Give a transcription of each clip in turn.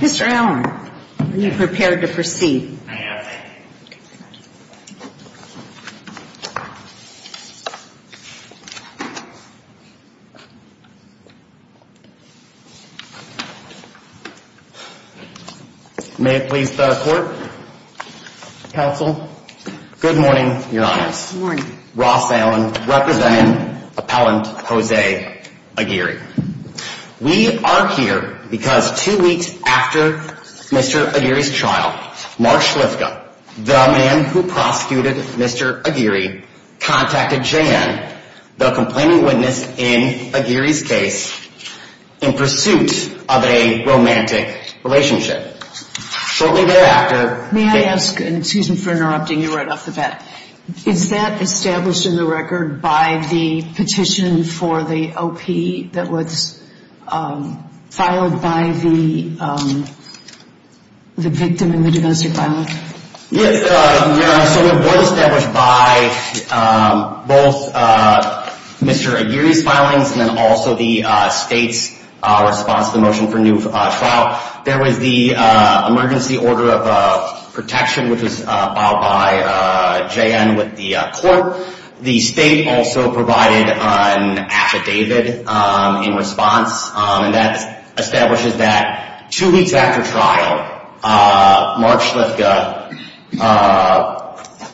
Mr. Aylward, are you prepared to proceed? I am. May it please the court, counsel, good morning, your honors. Good morning. We are here because two weeks after Mr. Aguirre's trial, Mark Schliffka, the man who prosecuted Mr. Aguirre, contacted JAN, the complaining witness in Aguirre's case, in pursuit of a romantic relationship. May I ask, and excuse me for interrupting you right off the bat, is that established in the record by the petition for the OP that was filed by the victim in the domestic violence? Yes, your honor, so it was established by both Mr. Aguirre's filings and also the state's response to the motion for a new trial. There was the emergency order of protection which was filed by JAN with the court. The state also provided an affidavit in response, and that establishes that two weeks after trial, Mark Schliffka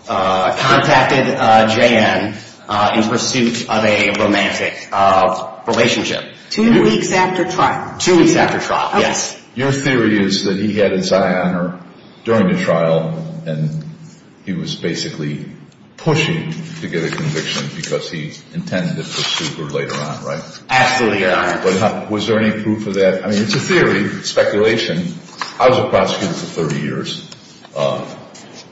contacted JAN in pursuit of a romantic relationship. Two weeks after trial? Two weeks after trial, yes. Your theory is that he had his eye on her during the trial, and he was basically pushing to get a conviction because he intended to pursue her later on, right? Absolutely, your honor. Was there any proof of that? I mean, it's a theory, speculation. I was a prosecutor for 30 years,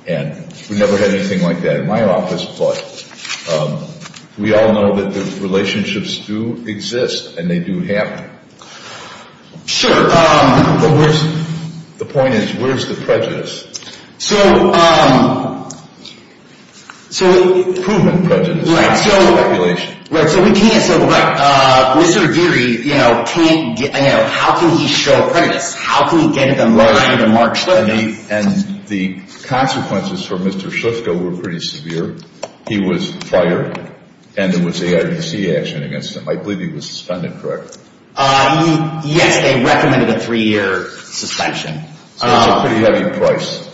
and we never had anything like that in my office, but we all know that the relationships do exist, and they do happen. Sure, but where's... The point is, where's the prejudice? So, um, so... Proven prejudice. Right, so... Speculation. Right, so we can't, so, right, Mr. Aguirre, you know, can't, you know, how can he show prejudice? How can he get it unlearned in Mark Schliffka? And the consequences for Mr. Schliffka were pretty severe. He was fired, and there was ARPC action against him. I believe he was suspended, correct? Yes, they recommended a three-year suspension. So it was a pretty heavy price.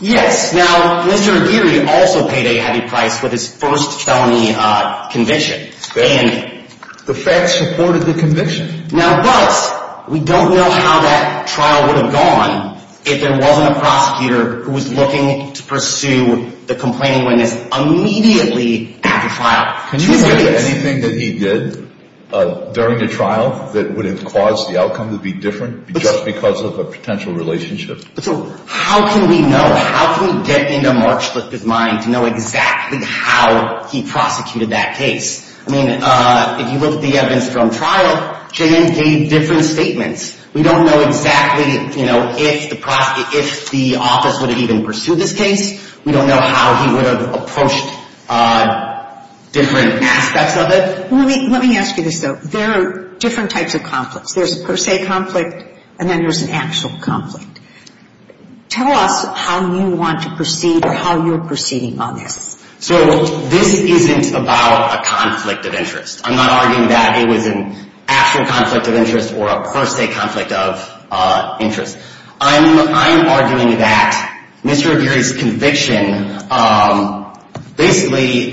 Yes, now, Mr. Aguirre also paid a heavy price for his first felony conviction, and... The facts supported the conviction. Now, but we don't know how that trial would have gone if there wasn't a prosecutor who was looking to pursue the complaining witness immediately after trial. Can you think of anything that he did during the trial that would have caused the outcome to be different just because of a potential relationship? So how can we know, how can we get into Mark Schliffka's mind to know exactly how he prosecuted that case? I mean, if you look at the evidence from trial, J.N. gave different statements. We don't know exactly, you know, if the office would have even pursued this case. We don't know how he would have approached different aspects of it. Let me ask you this, though. There are different types of conflicts. There's a per se conflict, and then there's an actual conflict. Tell us how you want to proceed or how you're proceeding on this. So this isn't about a conflict of interest. I'm not arguing that it was an actual conflict of interest or a per se conflict of interest. I'm arguing that Mr. Aguirre's conviction basically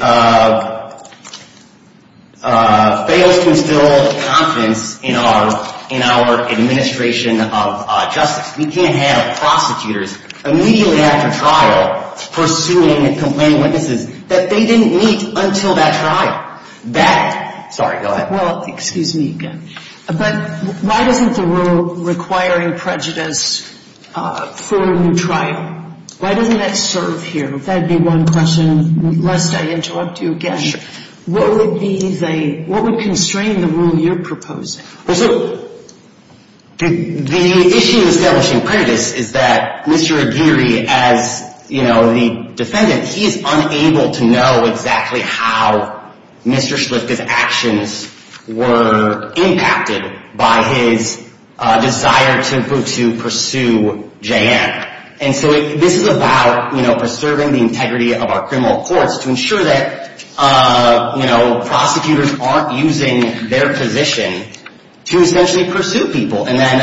fails to instill confidence in our administration of justice. We can't have prosecutors immediately after trial pursuing and complaining witnesses that they didn't meet until that trial. That, sorry, go ahead. Well, excuse me again, but why doesn't the rule requiring prejudice for a new trial, why doesn't that serve here? If that would be one question, lest I interrupt you again. Sure. What would be the, what would constrain the rule you're proposing? Well, so the issue establishing prejudice is that Mr. Aguirre, as the defendant, he is unable to know exactly how Mr. Schliff's actions were impacted by his desire to pursue Jeanne. And so this is about preserving the integrity of our criminal courts to ensure that, you know, prosecutors aren't using their position to essentially pursue people and then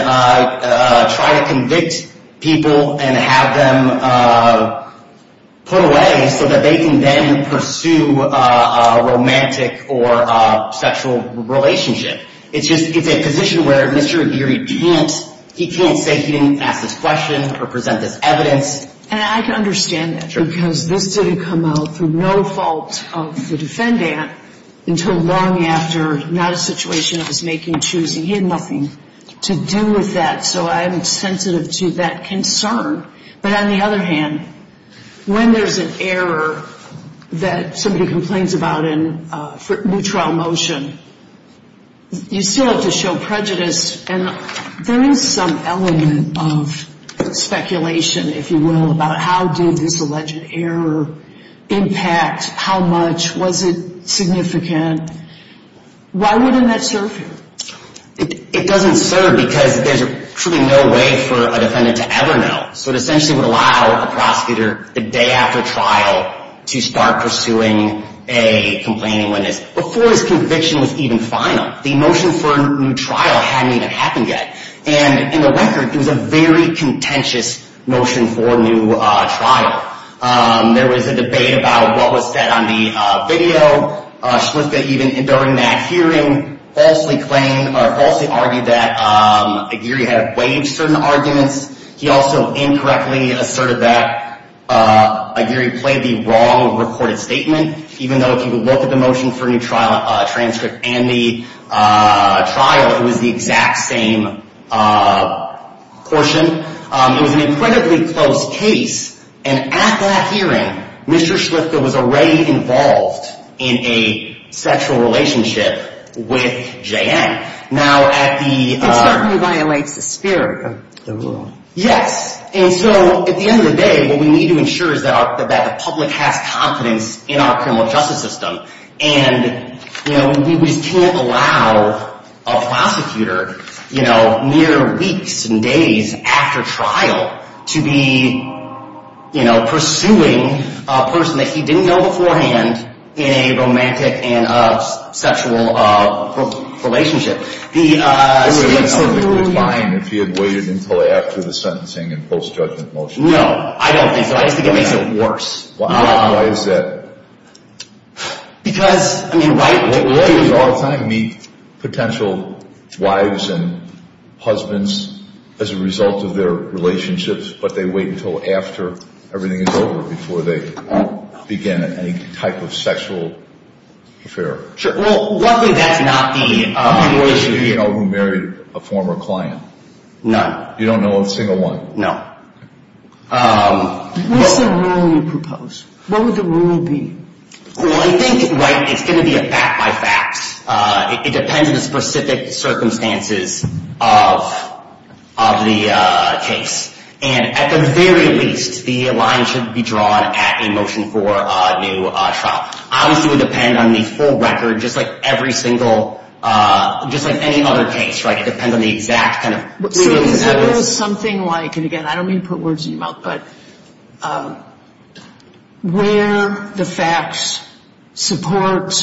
try to convict people and have them put away so that they can then pursue a romantic or sexual relationship. It's just, it's a position where Mr. Aguirre can't, he can't say he didn't ask this question or present this evidence. Yes, and I can understand that because this didn't come out through no fault of the defendant until long after not a situation of his making, choosing, he had nothing to do with that. So I'm sensitive to that concern. But on the other hand, when there's an error that somebody complains about in new trial motion, you still have to show prejudice and there is some element of speculation, if you will, about how did this alleged error impact, how much, was it significant? Why wouldn't that serve him? It doesn't serve because there's truly no way for a defendant to ever know. So it essentially would allow a prosecutor the day after trial to start pursuing a complaining witness before his conviction was even final. The motion for a new trial hadn't even happened yet. And in the record, it was a very contentious motion for a new trial. There was a debate about what was said on the video. Shliska even, during that hearing, falsely claimed or falsely argued that Aguirre had waived certain arguments. He also incorrectly asserted that Aguirre played the wrong recorded statement, even though if you look at the motion for a new trial transcript and the trial, it was the exact same portion. It was an incredibly close case. And at that hearing, Mr. Shliska was already involved in a sexual relationship with J.N. Now, at the- It certainly violates the spirit of the rule. Yes. And so at the end of the day, what we need to ensure is that the public has confidence in our criminal justice system. And, you know, we can't allow a prosecutor, you know, mere weeks and days after trial to be, you know, pursuing a person that he didn't know beforehand in a romantic and sexual relationship. It would have been perfectly fine if he had waited until after the sentencing and post-judgment motion. No, I don't think so. I just think it makes it worse. Why is that? Because, I mean, lawyers- Lawyers all the time meet potential wives and husbands as a result of their relationships, but they wait until after everything is over before they begin any type of sexual affair. Well, luckily that's not the situation here. How many of you know who married a former client? None. You don't know a single one? No. What's the rule you propose? What would the rule be? Well, I think, right, it's going to be a fact by fact. It depends on the specific circumstances of the case. And at the very least, the line should be drawn at a motion for a new trial. Obviously, it would depend on the full record, just like every single, just like any other case, right? It depends on the exact kind of- So is there something like, and again, I don't mean to put words in your mouth, but where the facts support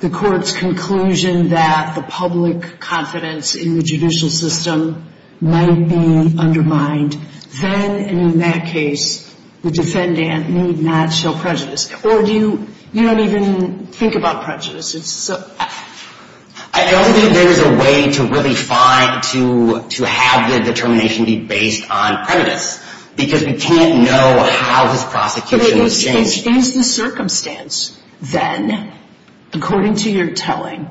the court's conclusion that the public confidence in the judicial system might be undermined, then, in that case, the defendant need not show prejudice. Or do you, you don't even think about prejudice? I don't think there's a way to really find, to have the determination be based on prejudice, because we can't know how this prosecution is changed. But is the circumstance then, according to your telling,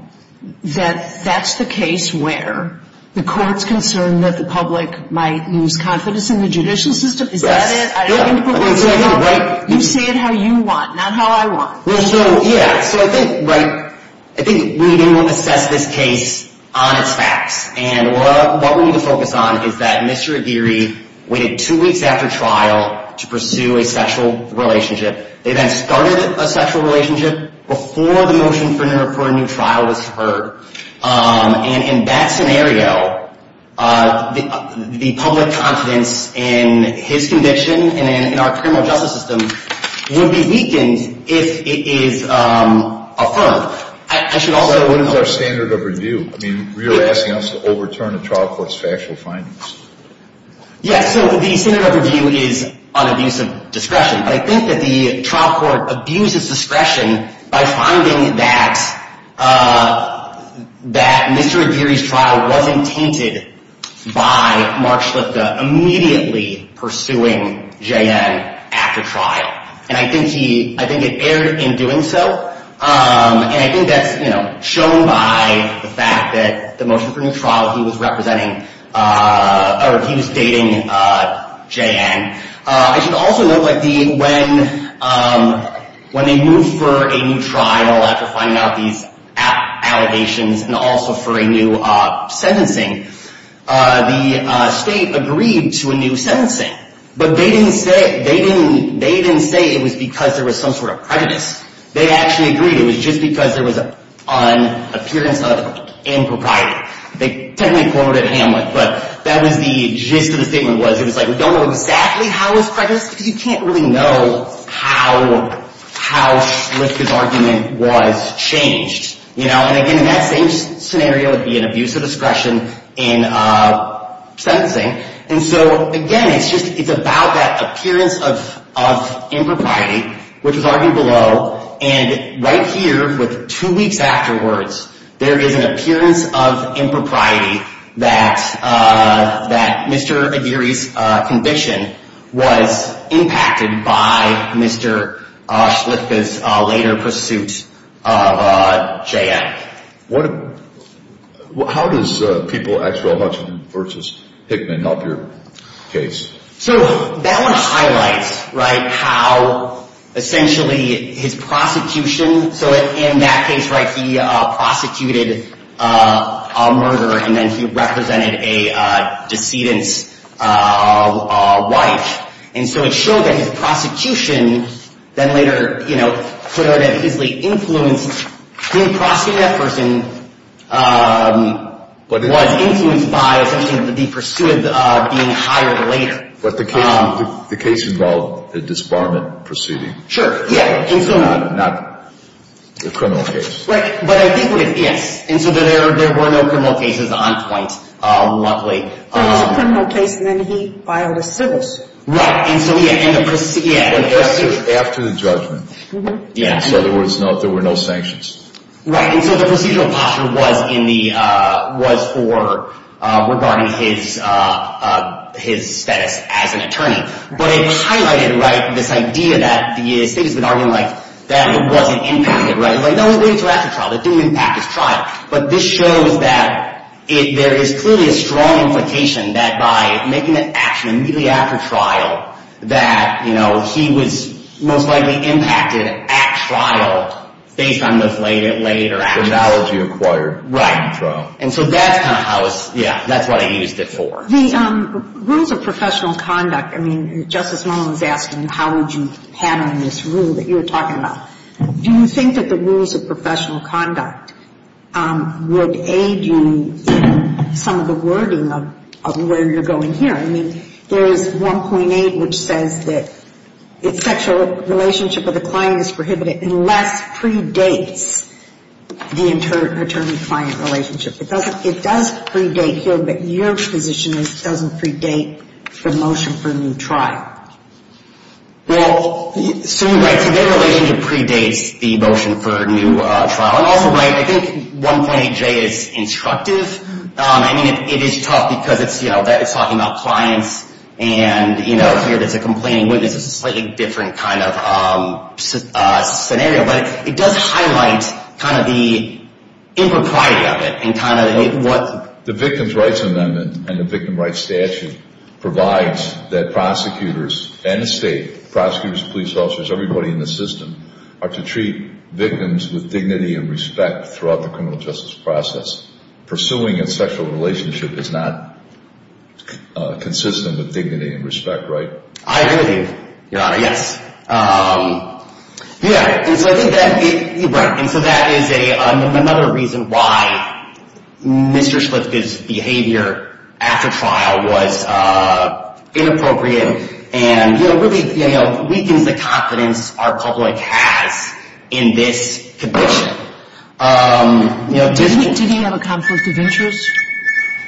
that that's the case where the court's concerned that the public might lose confidence in the judicial system? Yes. Is that it? You say it how you want, not how I want. Yeah, so I think, right, I think we need to assess this case on its facts. And what we need to focus on is that Mr. Aguirre waited two weeks after trial to pursue a sexual relationship. They then started a sexual relationship before the motion for a new trial was heard. And in that scenario, the public confidence in his conviction and in our criminal justice system would be weakened if it is affirmed. I should also note. So what is our standard of review? I mean, you're asking us to overturn a trial court's factual findings. Yes, so the standard of review is on abuse of discretion. I think that the trial court abused its discretion by finding that Mr. Aguirre's trial wasn't tainted by Mark Schlipka immediately pursuing J.N. after trial. And I think he, I think it erred in doing so. And I think that's shown by the fact that the motion for a new trial, he was representing, or he was dating J.N. I should also note when they moved for a new trial after finding out these allegations and also for a new sentencing, the state agreed to a new sentencing. But they didn't say it was because there was some sort of prejudice. They actually agreed it was just because there was an appearance of impropriety. They technically quoted Hamlet, but that was the gist of the statement was. It was like, we don't know exactly how it was prejudiced because you can't really know how Schlipka's argument was changed. And again, in that same scenario, it would be an abuse of discretion in sentencing. And so again, it's about that appearance of impropriety, which was argued below. And right here, with two weeks afterwards, there is an appearance of impropriety that Mr. Aguirre's conviction was impacted by Mr. Schlipka's later pursuit of J.N. What, how does People-Axwell-Hutchinson v. Hickman help your case? So that one highlights, right, how essentially his prosecution. So in that case, right, he prosecuted a murderer and then he represented a decedent's wife. And so it showed that his prosecution then later, you know, clearly influenced him prosecuting that person, was influenced by essentially the pursuit of being hired later. But the case involved a disbarment proceeding. Sure. Yeah. Not a criminal case. Right. But I think what it is, and so there were no criminal cases on point, luckily. It was a criminal case and then he filed a civil suit. Right. And so, yeah. After the judgment. Yeah. In other words, there were no sanctions. Right. And so the procedural posture was in the, was for, regarding his status as an attorney. But it highlighted, right, this idea that the state has been arguing, like, that it wasn't impacted, right. It didn't impact his trial. But this shows that there is clearly a strong implication that by making the action immediately after trial, that, you know, he was most likely impacted at trial based on this later action. The valid you acquired. Right. At trial. And so that's kind of how I was, yeah, that's what I used it for. The rules of professional conduct, I mean, Justice Mullins asked him how would you handle this rule that you were talking about. Do you think that the rules of professional conduct would aid you in some of the wording of where you're going here? I mean, there is 1.8 which says that sexual relationship with a client is prohibited unless predates the attorney-client relationship. It doesn't, it does predate here, but your position is it doesn't predate the motion for a new trial. Well, so you're right. So their relationship predates the motion for a new trial. And also, right, I think 1.8J is instructive. I mean, it is tough because it's, you know, that is talking about clients and, you know, here there's a complaining witness. It's a slightly different kind of scenario. But it does highlight kind of the impropriety of it and kind of what. The Victim's Rights Amendment and the Victim Rights Statute provides that prosecutors and the state, prosecutors, police officers, everybody in the system are to treat victims with dignity and respect throughout the criminal justice process. Pursuing a sexual relationship is not consistent with dignity and respect, right? I agree with you, Your Honor, yes. Yeah, and so I think that, you're right. And so that is another reason why Mr. Schliff's behavior after trial was inappropriate and, you know, really, you know, weakens the confidence our public has in this conviction. You know, did he have a conflict of interest?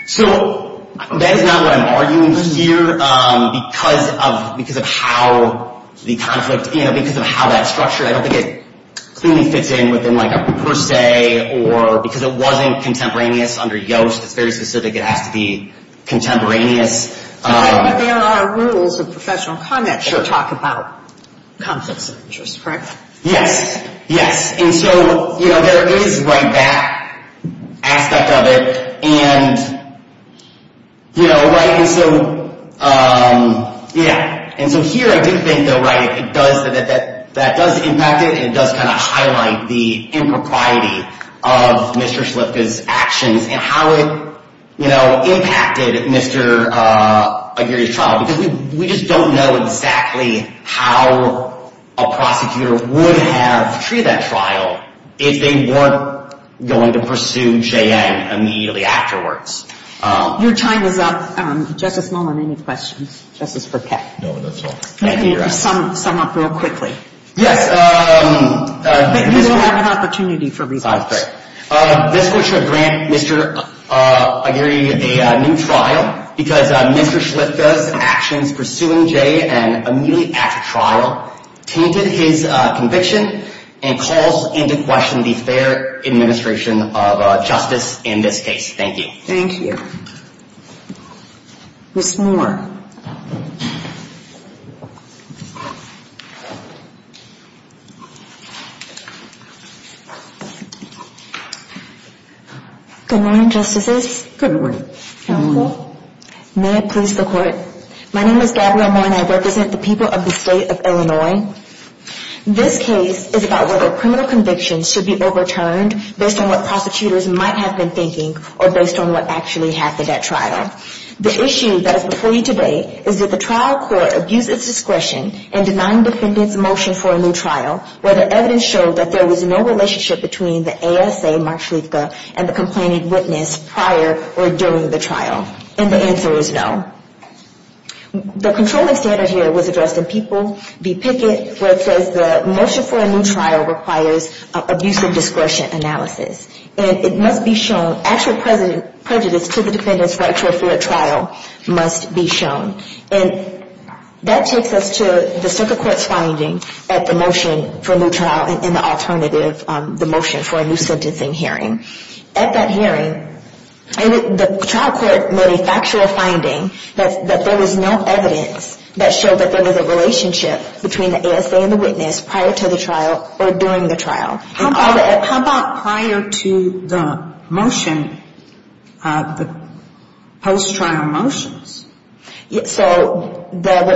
So that is not what I'm arguing here because of how the conflict, you know, because of how that's structured. I don't think it clearly fits in within like a per se or because it wasn't contemporaneous under Yoast. It's very specific. It has to be contemporaneous. But there are rules of professional conduct that talk about conflicts of interest, correct? Yes, yes. And so, you know, there is, right, that aspect of it. And, you know, right? And so, yeah. And so here I do think, though, right, it does, that does impact it. It does kind of highlight the impropriety of Mr. Schliff's actions and how it, you know, impacted Mr. Aguirre's trial. Because we just don't know exactly how a prosecutor would have treated that trial if they weren't going to pursue J.N. immediately afterwards. Your time is up. Justice Mullen, any questions? Justice Perpet? No, that's all. Let me sum up real quickly. Yes. But you will have an opportunity for response. This court should grant Mr. Aguirre a new trial because Mr. Schliff's actions pursuing J.N. immediately after trial tainted his conviction and calls into question the fair administration of justice in this case. Thank you. Thank you. Ms. Moore. Good morning, Justices. Good morning. May it please the Court. My name is Gabrielle Moore and I represent the people of the State of Illinois. This case is about whether criminal convictions should be overturned based on what prosecutors might have been thinking or based on what actually happened at trial. The issue that is before you today is that the trial court abused its discretion in denying defendants motion for a new trial where the evidence showed that there was no relationship between the ASA, Mark Schliffka, and the complaining witness prior or during the trial. And the answer is no. The controlling standard here was addressed in People v. Pickett where it says the motion for a new trial requires abusive discretion analysis. And it must be shown, actual prejudice to the defendant's right to a fair trial must be shown. And that takes us to the circuit court's finding at the motion for a new trial and the alternative, the motion for a new sentencing hearing. At that hearing, the trial court made a factual finding that there was no evidence that showed that there was a relationship between the ASA and the witness prior to the trial or during the trial. How about prior to the motion, the post-trial motions? So the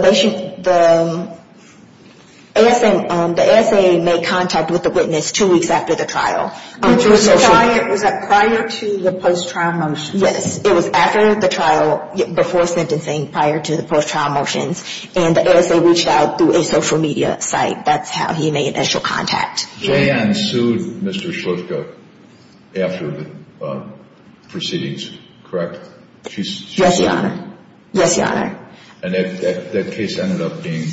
ASA made contact with the witness two weeks after the trial. Was that prior to the post-trial motion? Yes. It was after the trial, before sentencing, prior to the post-trial motions. And the ASA reached out through a social media site. That's how he made initial contact. J.N. sued Mr. Schliffka after the proceedings, correct? Yes, Your Honor. Yes, Your Honor. And that case ended up being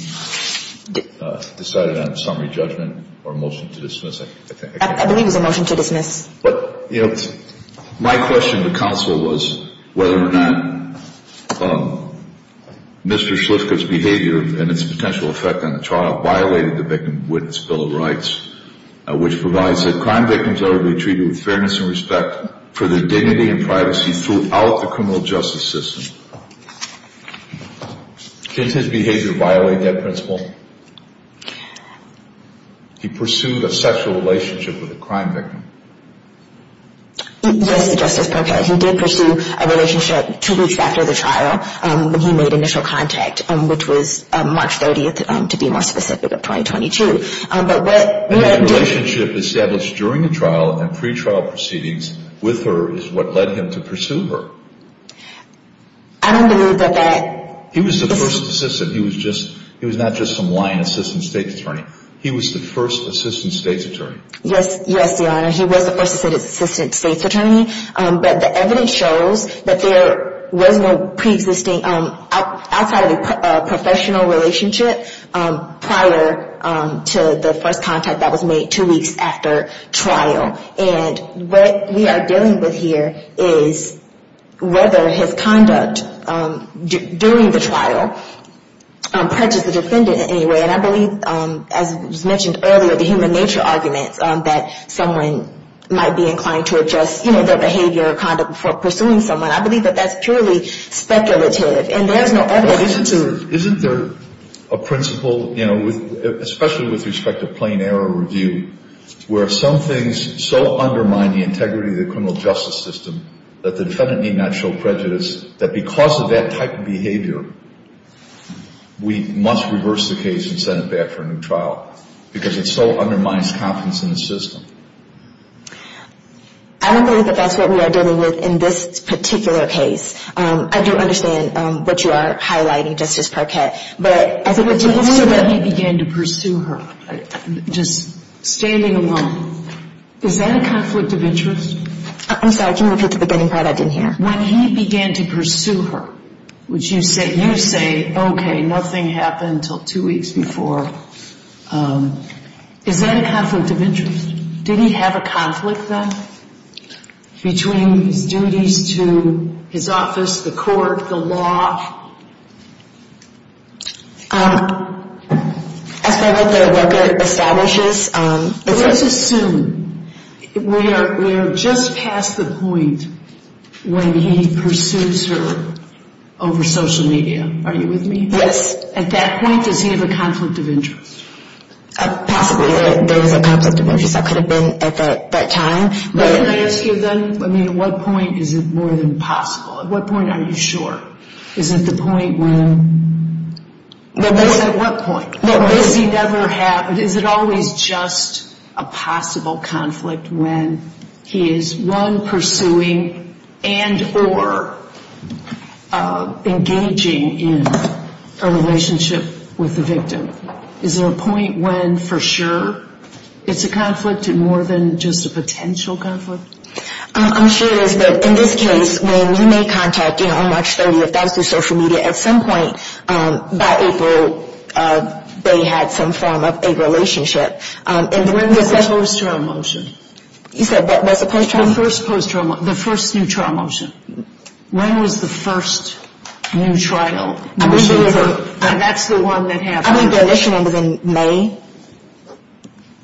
decided on summary judgment or a motion to dismiss, I think. I believe it was a motion to dismiss. My question to counsel was whether or not Mr. Schliffka's behavior and its potential effect on the trial violated the Victim Witness Bill of Rights, which provides that crime victims ought to be treated with fairness and respect for their dignity and privacy throughout the criminal justice system. Did his behavior violate that principle? He pursued a sexual relationship with a crime victim. Yes, Justice Parker, he did pursue a relationship two weeks after the trial when he made initial contact, which was March 30th, to be more specific, of 2022. And that relationship established during the trial and pre-trial proceedings with her is what led him to pursue her. I don't believe that that – He was the first assistant. He was not just some lying assistant state's attorney. He was the first assistant state's attorney. Yes, Your Honor. He was the first assistant state's attorney. But the evidence shows that there was no pre-existing – outside of a professional relationship prior to the first contact that was made two weeks after trial. And what we are dealing with here is whether his conduct during the trial prejudice the defendant in any way. And I believe, as was mentioned earlier, the human nature argument that someone might be inclined to adjust, you know, their behavior or conduct before pursuing someone. I believe that that's purely speculative. And there is no evidence to – the integrity of the criminal justice system that the defendant need not show prejudice, that because of that type of behavior, we must reverse the case and send it back for a new trial, because it so undermines confidence in the system. I don't believe that that's what we are dealing with in this particular case. I don't understand what you are highlighting, Justice Parkett. When he began to pursue her, just standing alone, is that a conflict of interest? I'm sorry. Can you repeat the beginning part? I didn't hear. When he began to pursue her, which you say, okay, nothing happened until two weeks before, is that a conflict of interest? Did he have a conflict, then, between his duties to his office, the court, the law? As far as the record establishes, it's a – Let's assume we are just past the point when he pursues her over social media. Are you with me? Yes. At that point, does he have a conflict of interest? Possibly. There was a conflict of interest. That could have been at that time. Can I ask you, then, at what point is it more than possible? At what point are you sure? Is it the point when – At what point? Does he never have – is it always just a possible conflict when he is, one, pursuing and or engaging in a relationship with the victim? Is there a point when, for sure, it's a conflict and more than just a potential conflict? I'm sure it is. But in this case, when we made contact on March 30th, that was through social media, at some point by April, they had some form of a relationship. And when was that? The post-trial motion. You said that was the post-trial? The first post-trial – the first new trial motion. When was the first new trial motion? That's the one that happened. I think the initial one was in May,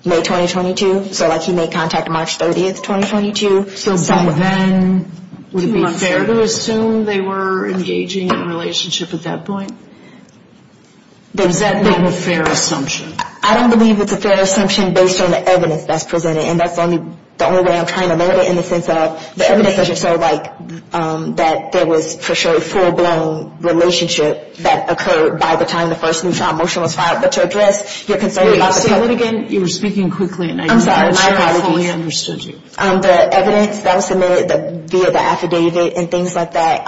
May 2022. So, like, he made contact March 30th, 2022. So, then, would it be fair to assume they were engaging in a relationship at that point? Does that make a fair assumption? I don't believe it's a fair assumption based on the evidence that's presented. And that's the only way I'm trying to learn it, in the sense of the evidence doesn't show, like, that there was, for sure, a full-blown relationship that occurred by the time the first new trial motion was filed. But to address your concern about the – Wait, say that again? You were speaking quickly, and I'm not sure I fully understood you. The evidence that was submitted via the affidavit and things like that,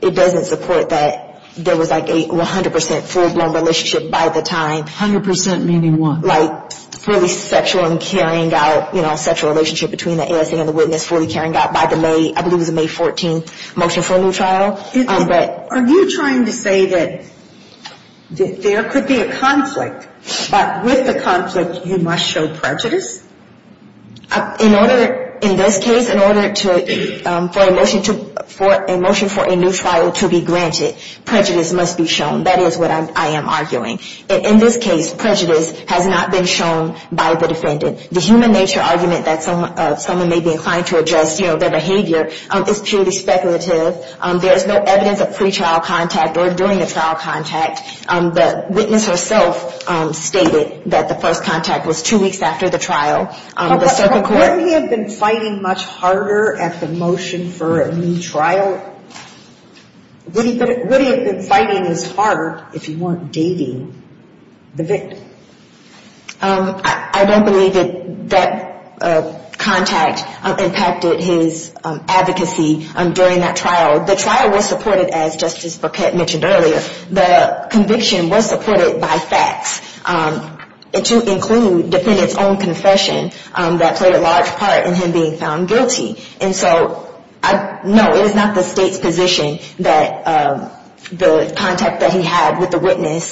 it doesn't support that there was, like, a 100 percent full-blown relationship by the time – 100 percent meaning what? Like, fully sexual and carrying out, you know, fully carrying out by the May – I believe it was the May 14th motion for a new trial. Are you trying to say that there could be a conflict, but with the conflict, you must show prejudice? In order – in this case, in order to – for a motion to – for a motion for a new trial to be granted, prejudice must be shown. That is what I am arguing. In this case, prejudice has not been shown by the defendant. The human nature argument that someone may be inclined to adjust, you know, their behavior, is purely speculative. There is no evidence of pre-trial contact or during a trial contact. The witness herself stated that the first contact was two weeks after the trial. The circuit court – But wouldn't he have been fighting much harder at the motion for a new trial? Wouldn't he have been fighting as hard if he weren't dating the victim? I don't believe that that contact impacted his advocacy during that trial. The trial was supported, as Justice Burkett mentioned earlier. The conviction was supported by facts, to include defendant's own confession that played a large part in him being found guilty. And so, no, it is not the state's position that the contact that he had with the witness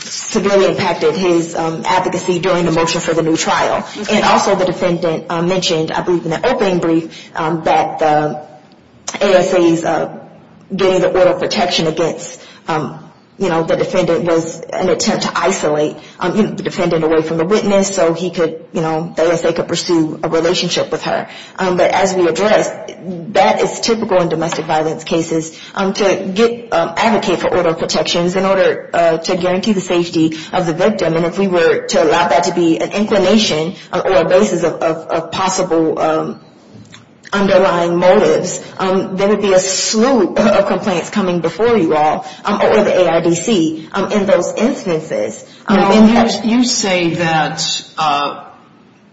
severely impacted his advocacy during the motion for the new trial. And also the defendant mentioned, I believe in the opening brief, that the ASA's getting the order of protection against, you know, the defendant was an attempt to isolate the defendant away from the witness so he could, you know, But as we addressed, that is typical in domestic violence cases to advocate for order of protections in order to guarantee the safety of the victim. And if we were to allow that to be an inclination or a basis of possible underlying motives, there would be a slew of complaints coming before you all or the ARDC in those instances. You say that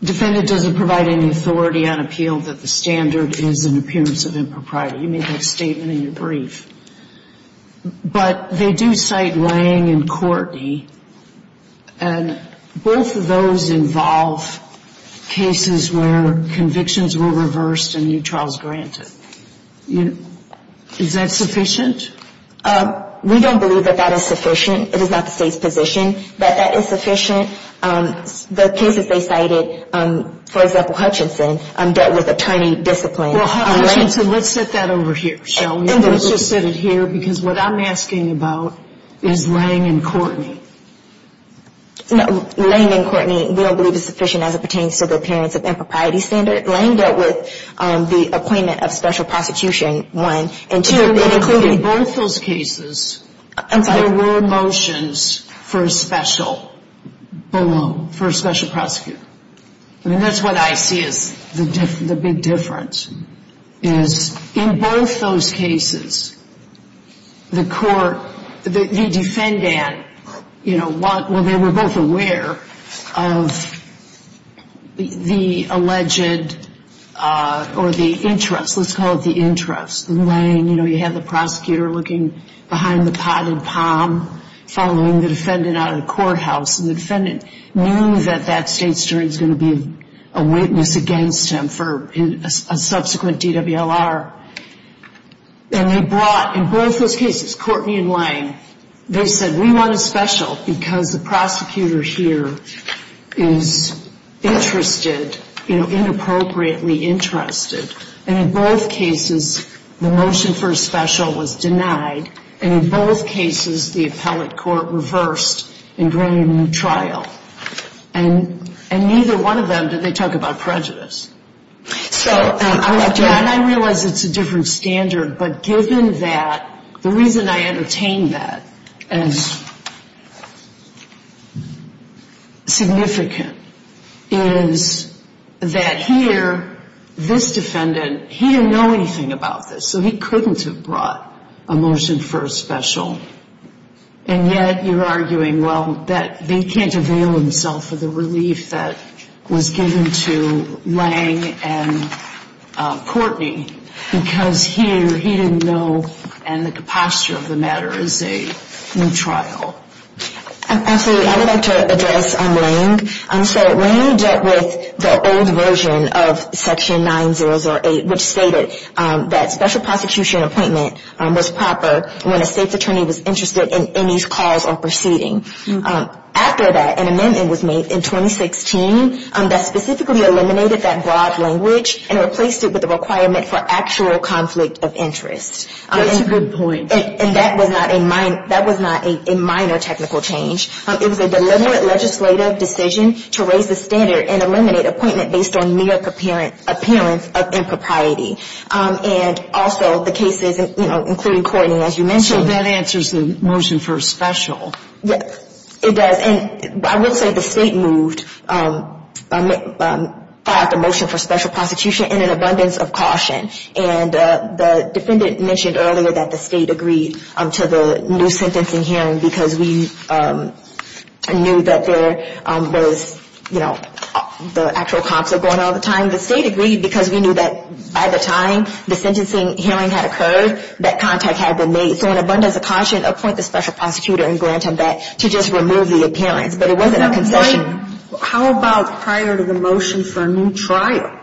defendant doesn't provide any authority on appeal, that the standard is an appearance of impropriety. You made that statement in your brief. But they do cite Lange and Courtney, and both of those involve cases where convictions were reversed and new trials granted. Is that sufficient? We don't believe that that is sufficient. It is not the state's position that that is sufficient. The cases they cited, for example, Hutchinson, dealt with attorney discipline. Well, Hutchinson, let's set that over here, shall we? And let's just set it here because what I'm asking about is Lange and Courtney. Lange and Courtney we don't believe is sufficient as it pertains to the appearance of impropriety standard. Lange dealt with the appointment of special prosecution, one. In both those cases, there were motions for a special balloon, for a special prosecutor. I mean, that's what I see as the big difference is in both those cases, the court, the defendant, you know, you have the prosecutor looking behind the potted palm following the defendant out of the courthouse, and the defendant knew that that state's jury was going to be a witness against him for a subsequent DWLR. And they brought, in both those cases, Courtney and Lange, they said, we want a special because the prosecutor here is interested, you know, inappropriately interested. And in both cases, the motion for a special was denied. And in both cases, the appellate court reversed in bringing a new trial. And neither one of them, did they talk about prejudice? So I realize it's a different standard, but given that, the reason I entertain that as significant is that here, this defendant, he didn't know anything about this, so he couldn't have brought a motion for a special. And yet, you're arguing, well, that he can't avail himself of the relief that was given to Lange and Courtney, because here, he didn't know, and the posture of the matter is a new trial. Absolutely, I would like to address Lange. So Lange dealt with the old version of Section 9008, which stated that special prosecution appointment was proper when a state's attorney was interested in any cause or proceeding. After that, an amendment was made in 2016 that specifically eliminated that broad language and replaced it with a requirement for actual conflict of interest. That's a good point. And that was not a minor technical change. It was a deliberate legislative decision to raise the standard and eliminate appointment based on mere appearance of impropriety. And also, the cases, you know, including Courtney, as you mentioned. So that answers the motion for a special. It does. And I will say the state moved, filed a motion for special prosecution in an abundance of caution. And the defendant mentioned earlier that the state agreed to the new sentencing hearing because we knew that there was, you know, the actual conflict going on all the time. The state agreed because we knew that by the time the sentencing hearing had occurred, that contact had been made. So in abundance of caution, appoint the special prosecutor and grant him that to just remove the appearance. But it wasn't a concession. Sotomayor, how about prior to the motion for a new trial?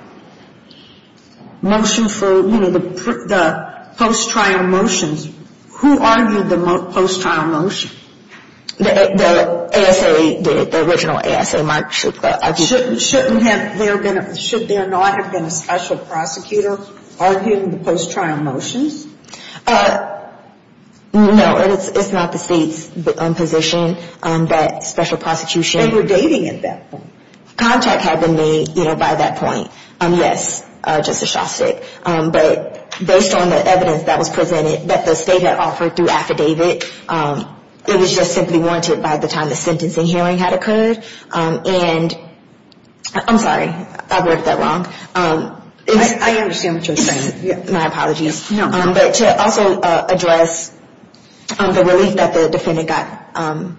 Motion for, you know, the post-trial motions. Who argued the post-trial motion? The ASA, the original ASA might have. Should there not have been a special prosecutor arguing the post-trial motions? No. It's not the state's position that special prosecution. They were dating at that point. Contact had been made, you know, by that point. Yes, Justice Shostak. But based on the evidence that was presented that the state had offered through affidavit, it was just simply warranted by the time the sentencing hearing had occurred. And I'm sorry. I worded that wrong. I understand what you're saying. My apologies. No. But to also address the relief that the defendant got and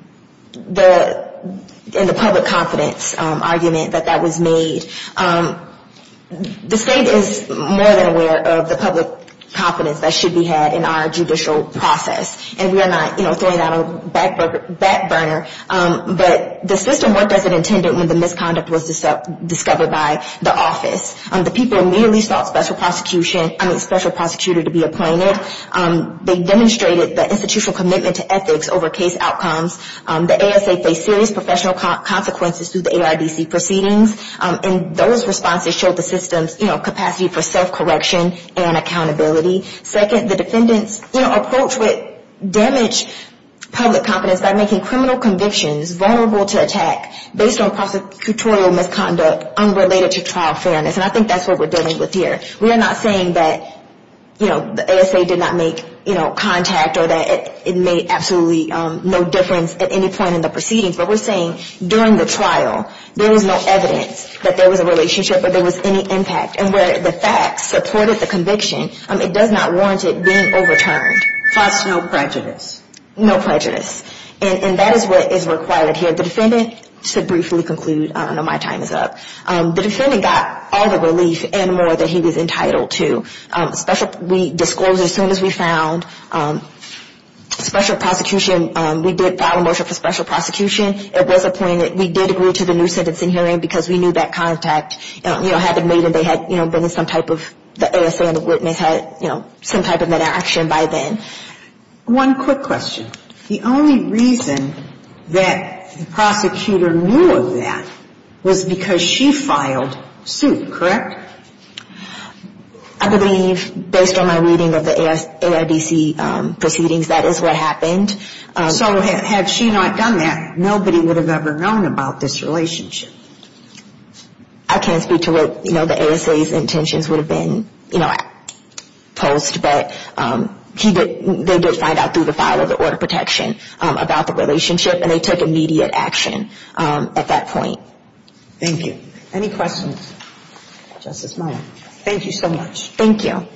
the public confidence argument that that was made, the state is more than aware of the public confidence that should be had in our judicial process. And we are not, you know, throwing out a back burner. But the system worked as it intended when the misconduct was discovered by the office. The people immediately sought special prosecution, I mean special prosecutor to be appointed. They demonstrated the institutional commitment to ethics over case outcomes. The ASA faced serious professional consequences through the ARDC proceedings. And those responses showed the system's, you know, capacity for self-correction and accountability. Second, the defendants, you know, approached with damaged public confidence by making criminal convictions vulnerable to attack based on prosecutorial misconduct unrelated to trial fairness. And I think that's what we're dealing with here. We are not saying that, you know, the ASA did not make, you know, contact or that it made absolutely no difference at any point in the proceedings. But we're saying during the trial there was no evidence that there was a relationship or there was any impact. And where the facts supported the conviction, it does not warrant it being overturned. Plus no prejudice. No prejudice. And that is what is required here. The defendant, to briefly conclude, I don't know, my time is up. The defendant got all the relief and more than he was entitled to. We disclosed as soon as we found special prosecution. We did file a motion for special prosecution. It was appointed. We did agree to the new sentencing hearing because we knew that contact, you know, had been made and they had, you know, been in some type of, the ASA and the witness had, you know, some type of inaction by then. One quick question. The only reason that the prosecutor knew of that was because she filed suit, correct? I believe, based on my reading of the AIDC proceedings, that is what happened. So had she not done that, nobody would have ever known about this relationship. I can't speak to what, you know, the ASA's intentions would have been, you know, post. But she did, they did find out through the file of the order of protection about the relationship and they took immediate action at that point. Thank you. Any questions? Justice Meyer. Thank you so much. Thank you.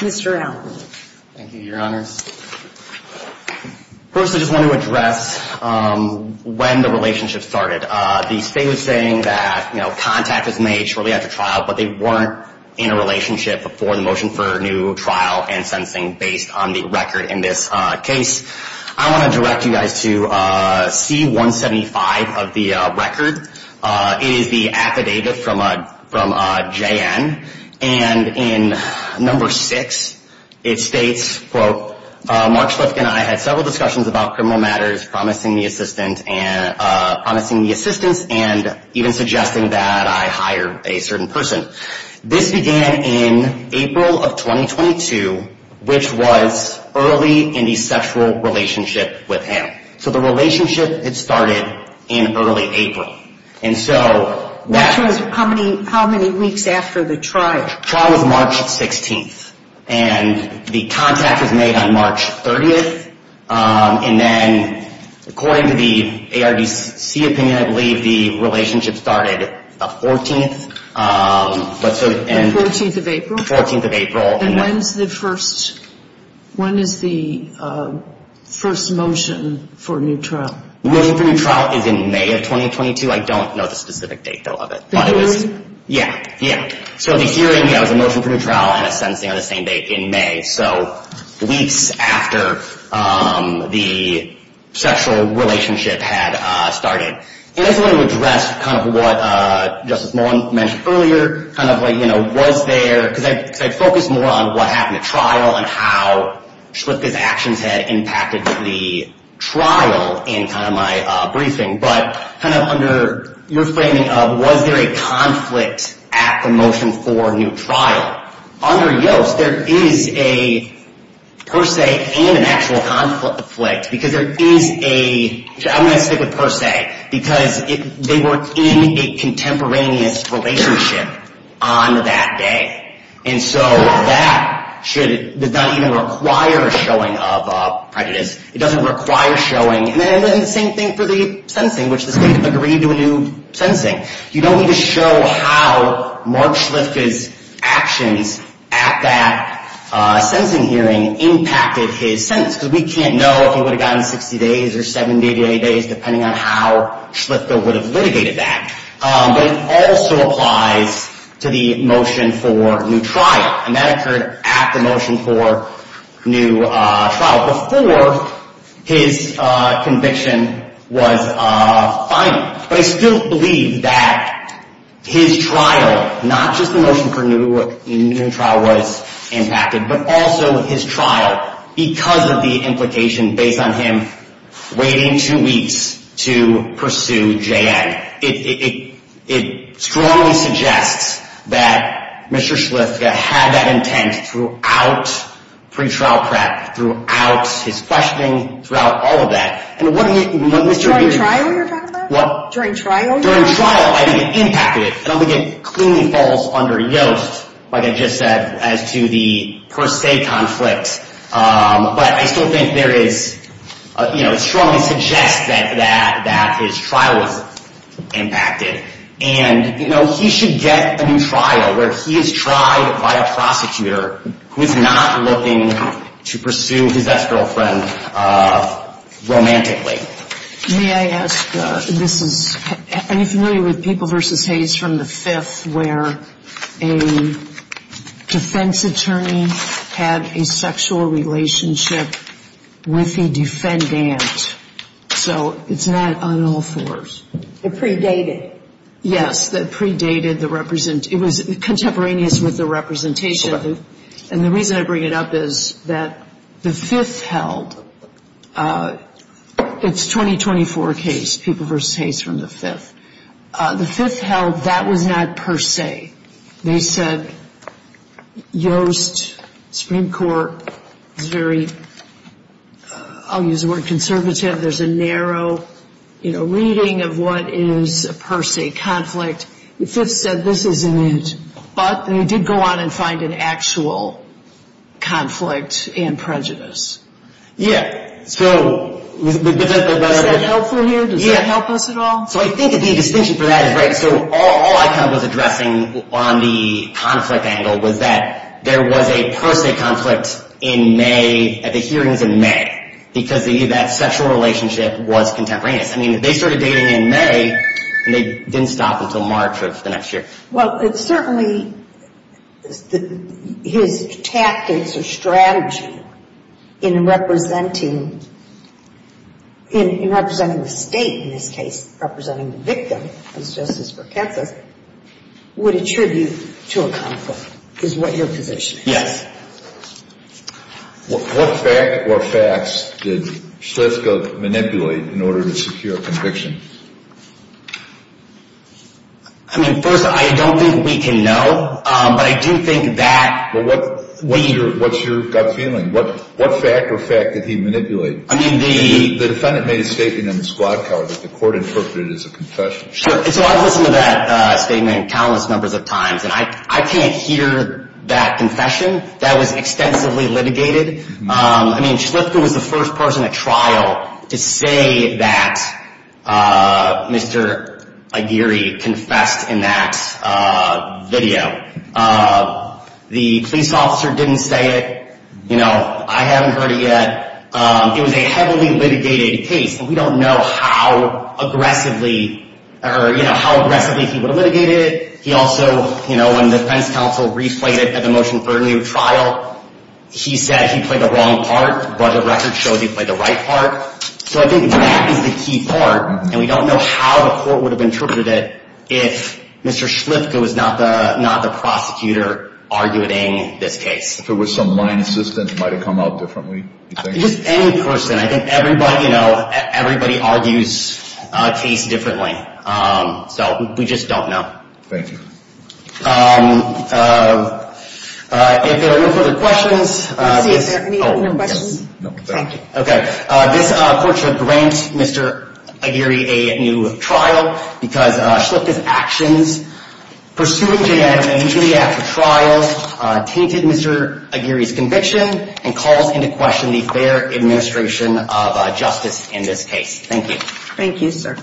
Mr. Allen. Thank you, Your Honors. First, I just want to address when the relationship started. The state was saying that, you know, contact was made shortly after trial, but they weren't in a relationship before the motion for new trial and sentencing based on the record in this case. I want to direct you guys to C-175 of the record. It is the affidavit from J.N. And in number six, it states, quote, Mark Schliff and I had several discussions about criminal matters promising the assistance and even suggesting that I hire a certain person. This began in April of 2022, which was early in the sexual relationship with him. So the relationship had started in early April. How many weeks after the trial? The trial was March 16th. And the contact was made on March 30th. And then, according to the ARDC opinion, I believe the relationship started the 14th. The 14th of April? The 14th of April. And when is the first motion for new trial? The motion for new trial is in May of 2022. I don't know the specific date, though, of it. The hearing? Yeah, yeah. So the hearing, yeah, was a motion for new trial and a sentencing on the same date in May. So weeks after the sexual relationship had started. And I just wanted to address kind of what Justice Mullen mentioned earlier, kind of like, you know, was there, because I focused more on what happened at trial and how Schliff's actions had impacted the trial in kind of my briefing. But kind of under your framing of was there a conflict at the motion for new trial? Under Yost, there is a per se and an actual conflict. Because there is a, I'm going to stick with per se, because they were in a contemporaneous relationship on that day. And so that should not even require showing of prejudice. It doesn't require showing. And the same thing for the sentencing, which the state agreed to a new sentencing. You don't need to show how Mark Schliff's actions at that sentencing hearing impacted his sentence. Because we can't know if he would have gotten 60 days or 70 days, depending on how Schliff would have litigated that. But it also applies to the motion for new trial. And that occurred at the motion for new trial. Before his conviction was final. But I still believe that his trial, not just the motion for new trial was impacted, but also his trial because of the implication based on him waiting two weeks to pursue J.N. It strongly suggests that Mr. Schliff had that intent throughout pretrial prep, throughout his questioning, throughout all of that. During trial you're talking about? What? During trial. During trial I think it impacted. I don't think it clearly falls under Yost, like I just said, as to the per se conflict. But I still think there is, you know, it strongly suggests that his trial was impacted. And, you know, he should get a new trial where he is tried by a prosecutor who is not looking to pursue his ex-girlfriend romantically. May I ask, this is, are you familiar with People v. Hayes from the Fifth, where a defense attorney had a sexual relationship with a defendant? So it's not on all fours. They're predated. Yes, they're predated. It was contemporaneous with the representation. And the reason I bring it up is that the Fifth held, it's 2024 case, People v. Hayes from the Fifth. The Fifth held that was not per se. They said Yost, Supreme Court, is very, I'll use the word conservative. There's a narrow, you know, reading of what is a per se conflict. The Fifth said this isn't it. But they did go on and find an actual conflict and prejudice. So is that helpful here? Does that help us at all? So I think the distinction for that is right. So all I kind of was addressing on the conflict angle was that there was a per se conflict in May, at the hearings in May, because that sexual relationship was contemporaneous. I mean, they started dating in May, and they didn't stop until March of the next year. Well, certainly his tactics or strategy in representing the State in this case, representing the victim, as Justice Burkett says, would attribute to a conflict is what your position is. What fact or facts did Shlisko manipulate in order to secure a conviction? I mean, first, I don't think we can know. But I do think that we... Well, what's your gut feeling? What fact or fact did he manipulate? I mean, the... The defendant made a statement in the squad car that the court interpreted as a confession. Sure. And so I've listened to that statement countless numbers of times. And I can't hear that confession. That was extensively litigated. I mean, Shlisko was the first person at trial to say that Mr. Aguirre confessed in that video. The police officer didn't say it. You know, I haven't heard it yet. It was a heavily litigated case, and we don't know how aggressively he would have litigated it. He also, you know, when the defense counsel reflated at the motion for a new trial, he said he played the wrong part. Budget records showed he played the right part. So I think that is the key part, and we don't know how the court would have interpreted it if Mr. Shlisko was not the prosecutor arguing this case. If it was some line assistant, might it come out differently, you think? Just any person. I think everybody, you know, everybody argues a case differently. So we just don't know. Thank you. If there are no further questions. Let's see, is there any questions? No, thank you. Okay. This court should grant Mr. Aguirre a new trial because Shlisko's actions, pursuing Jay Adams initially after trial, tainted Mr. Aguirre's conviction and calls into question the fair administration of justice in this case. Thank you. Thank you, sir.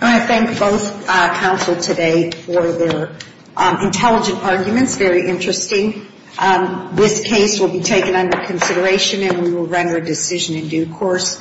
I want to thank both counsel today for their intelligent arguments, very interesting. This case will be taken under consideration and we will render a decision in due course.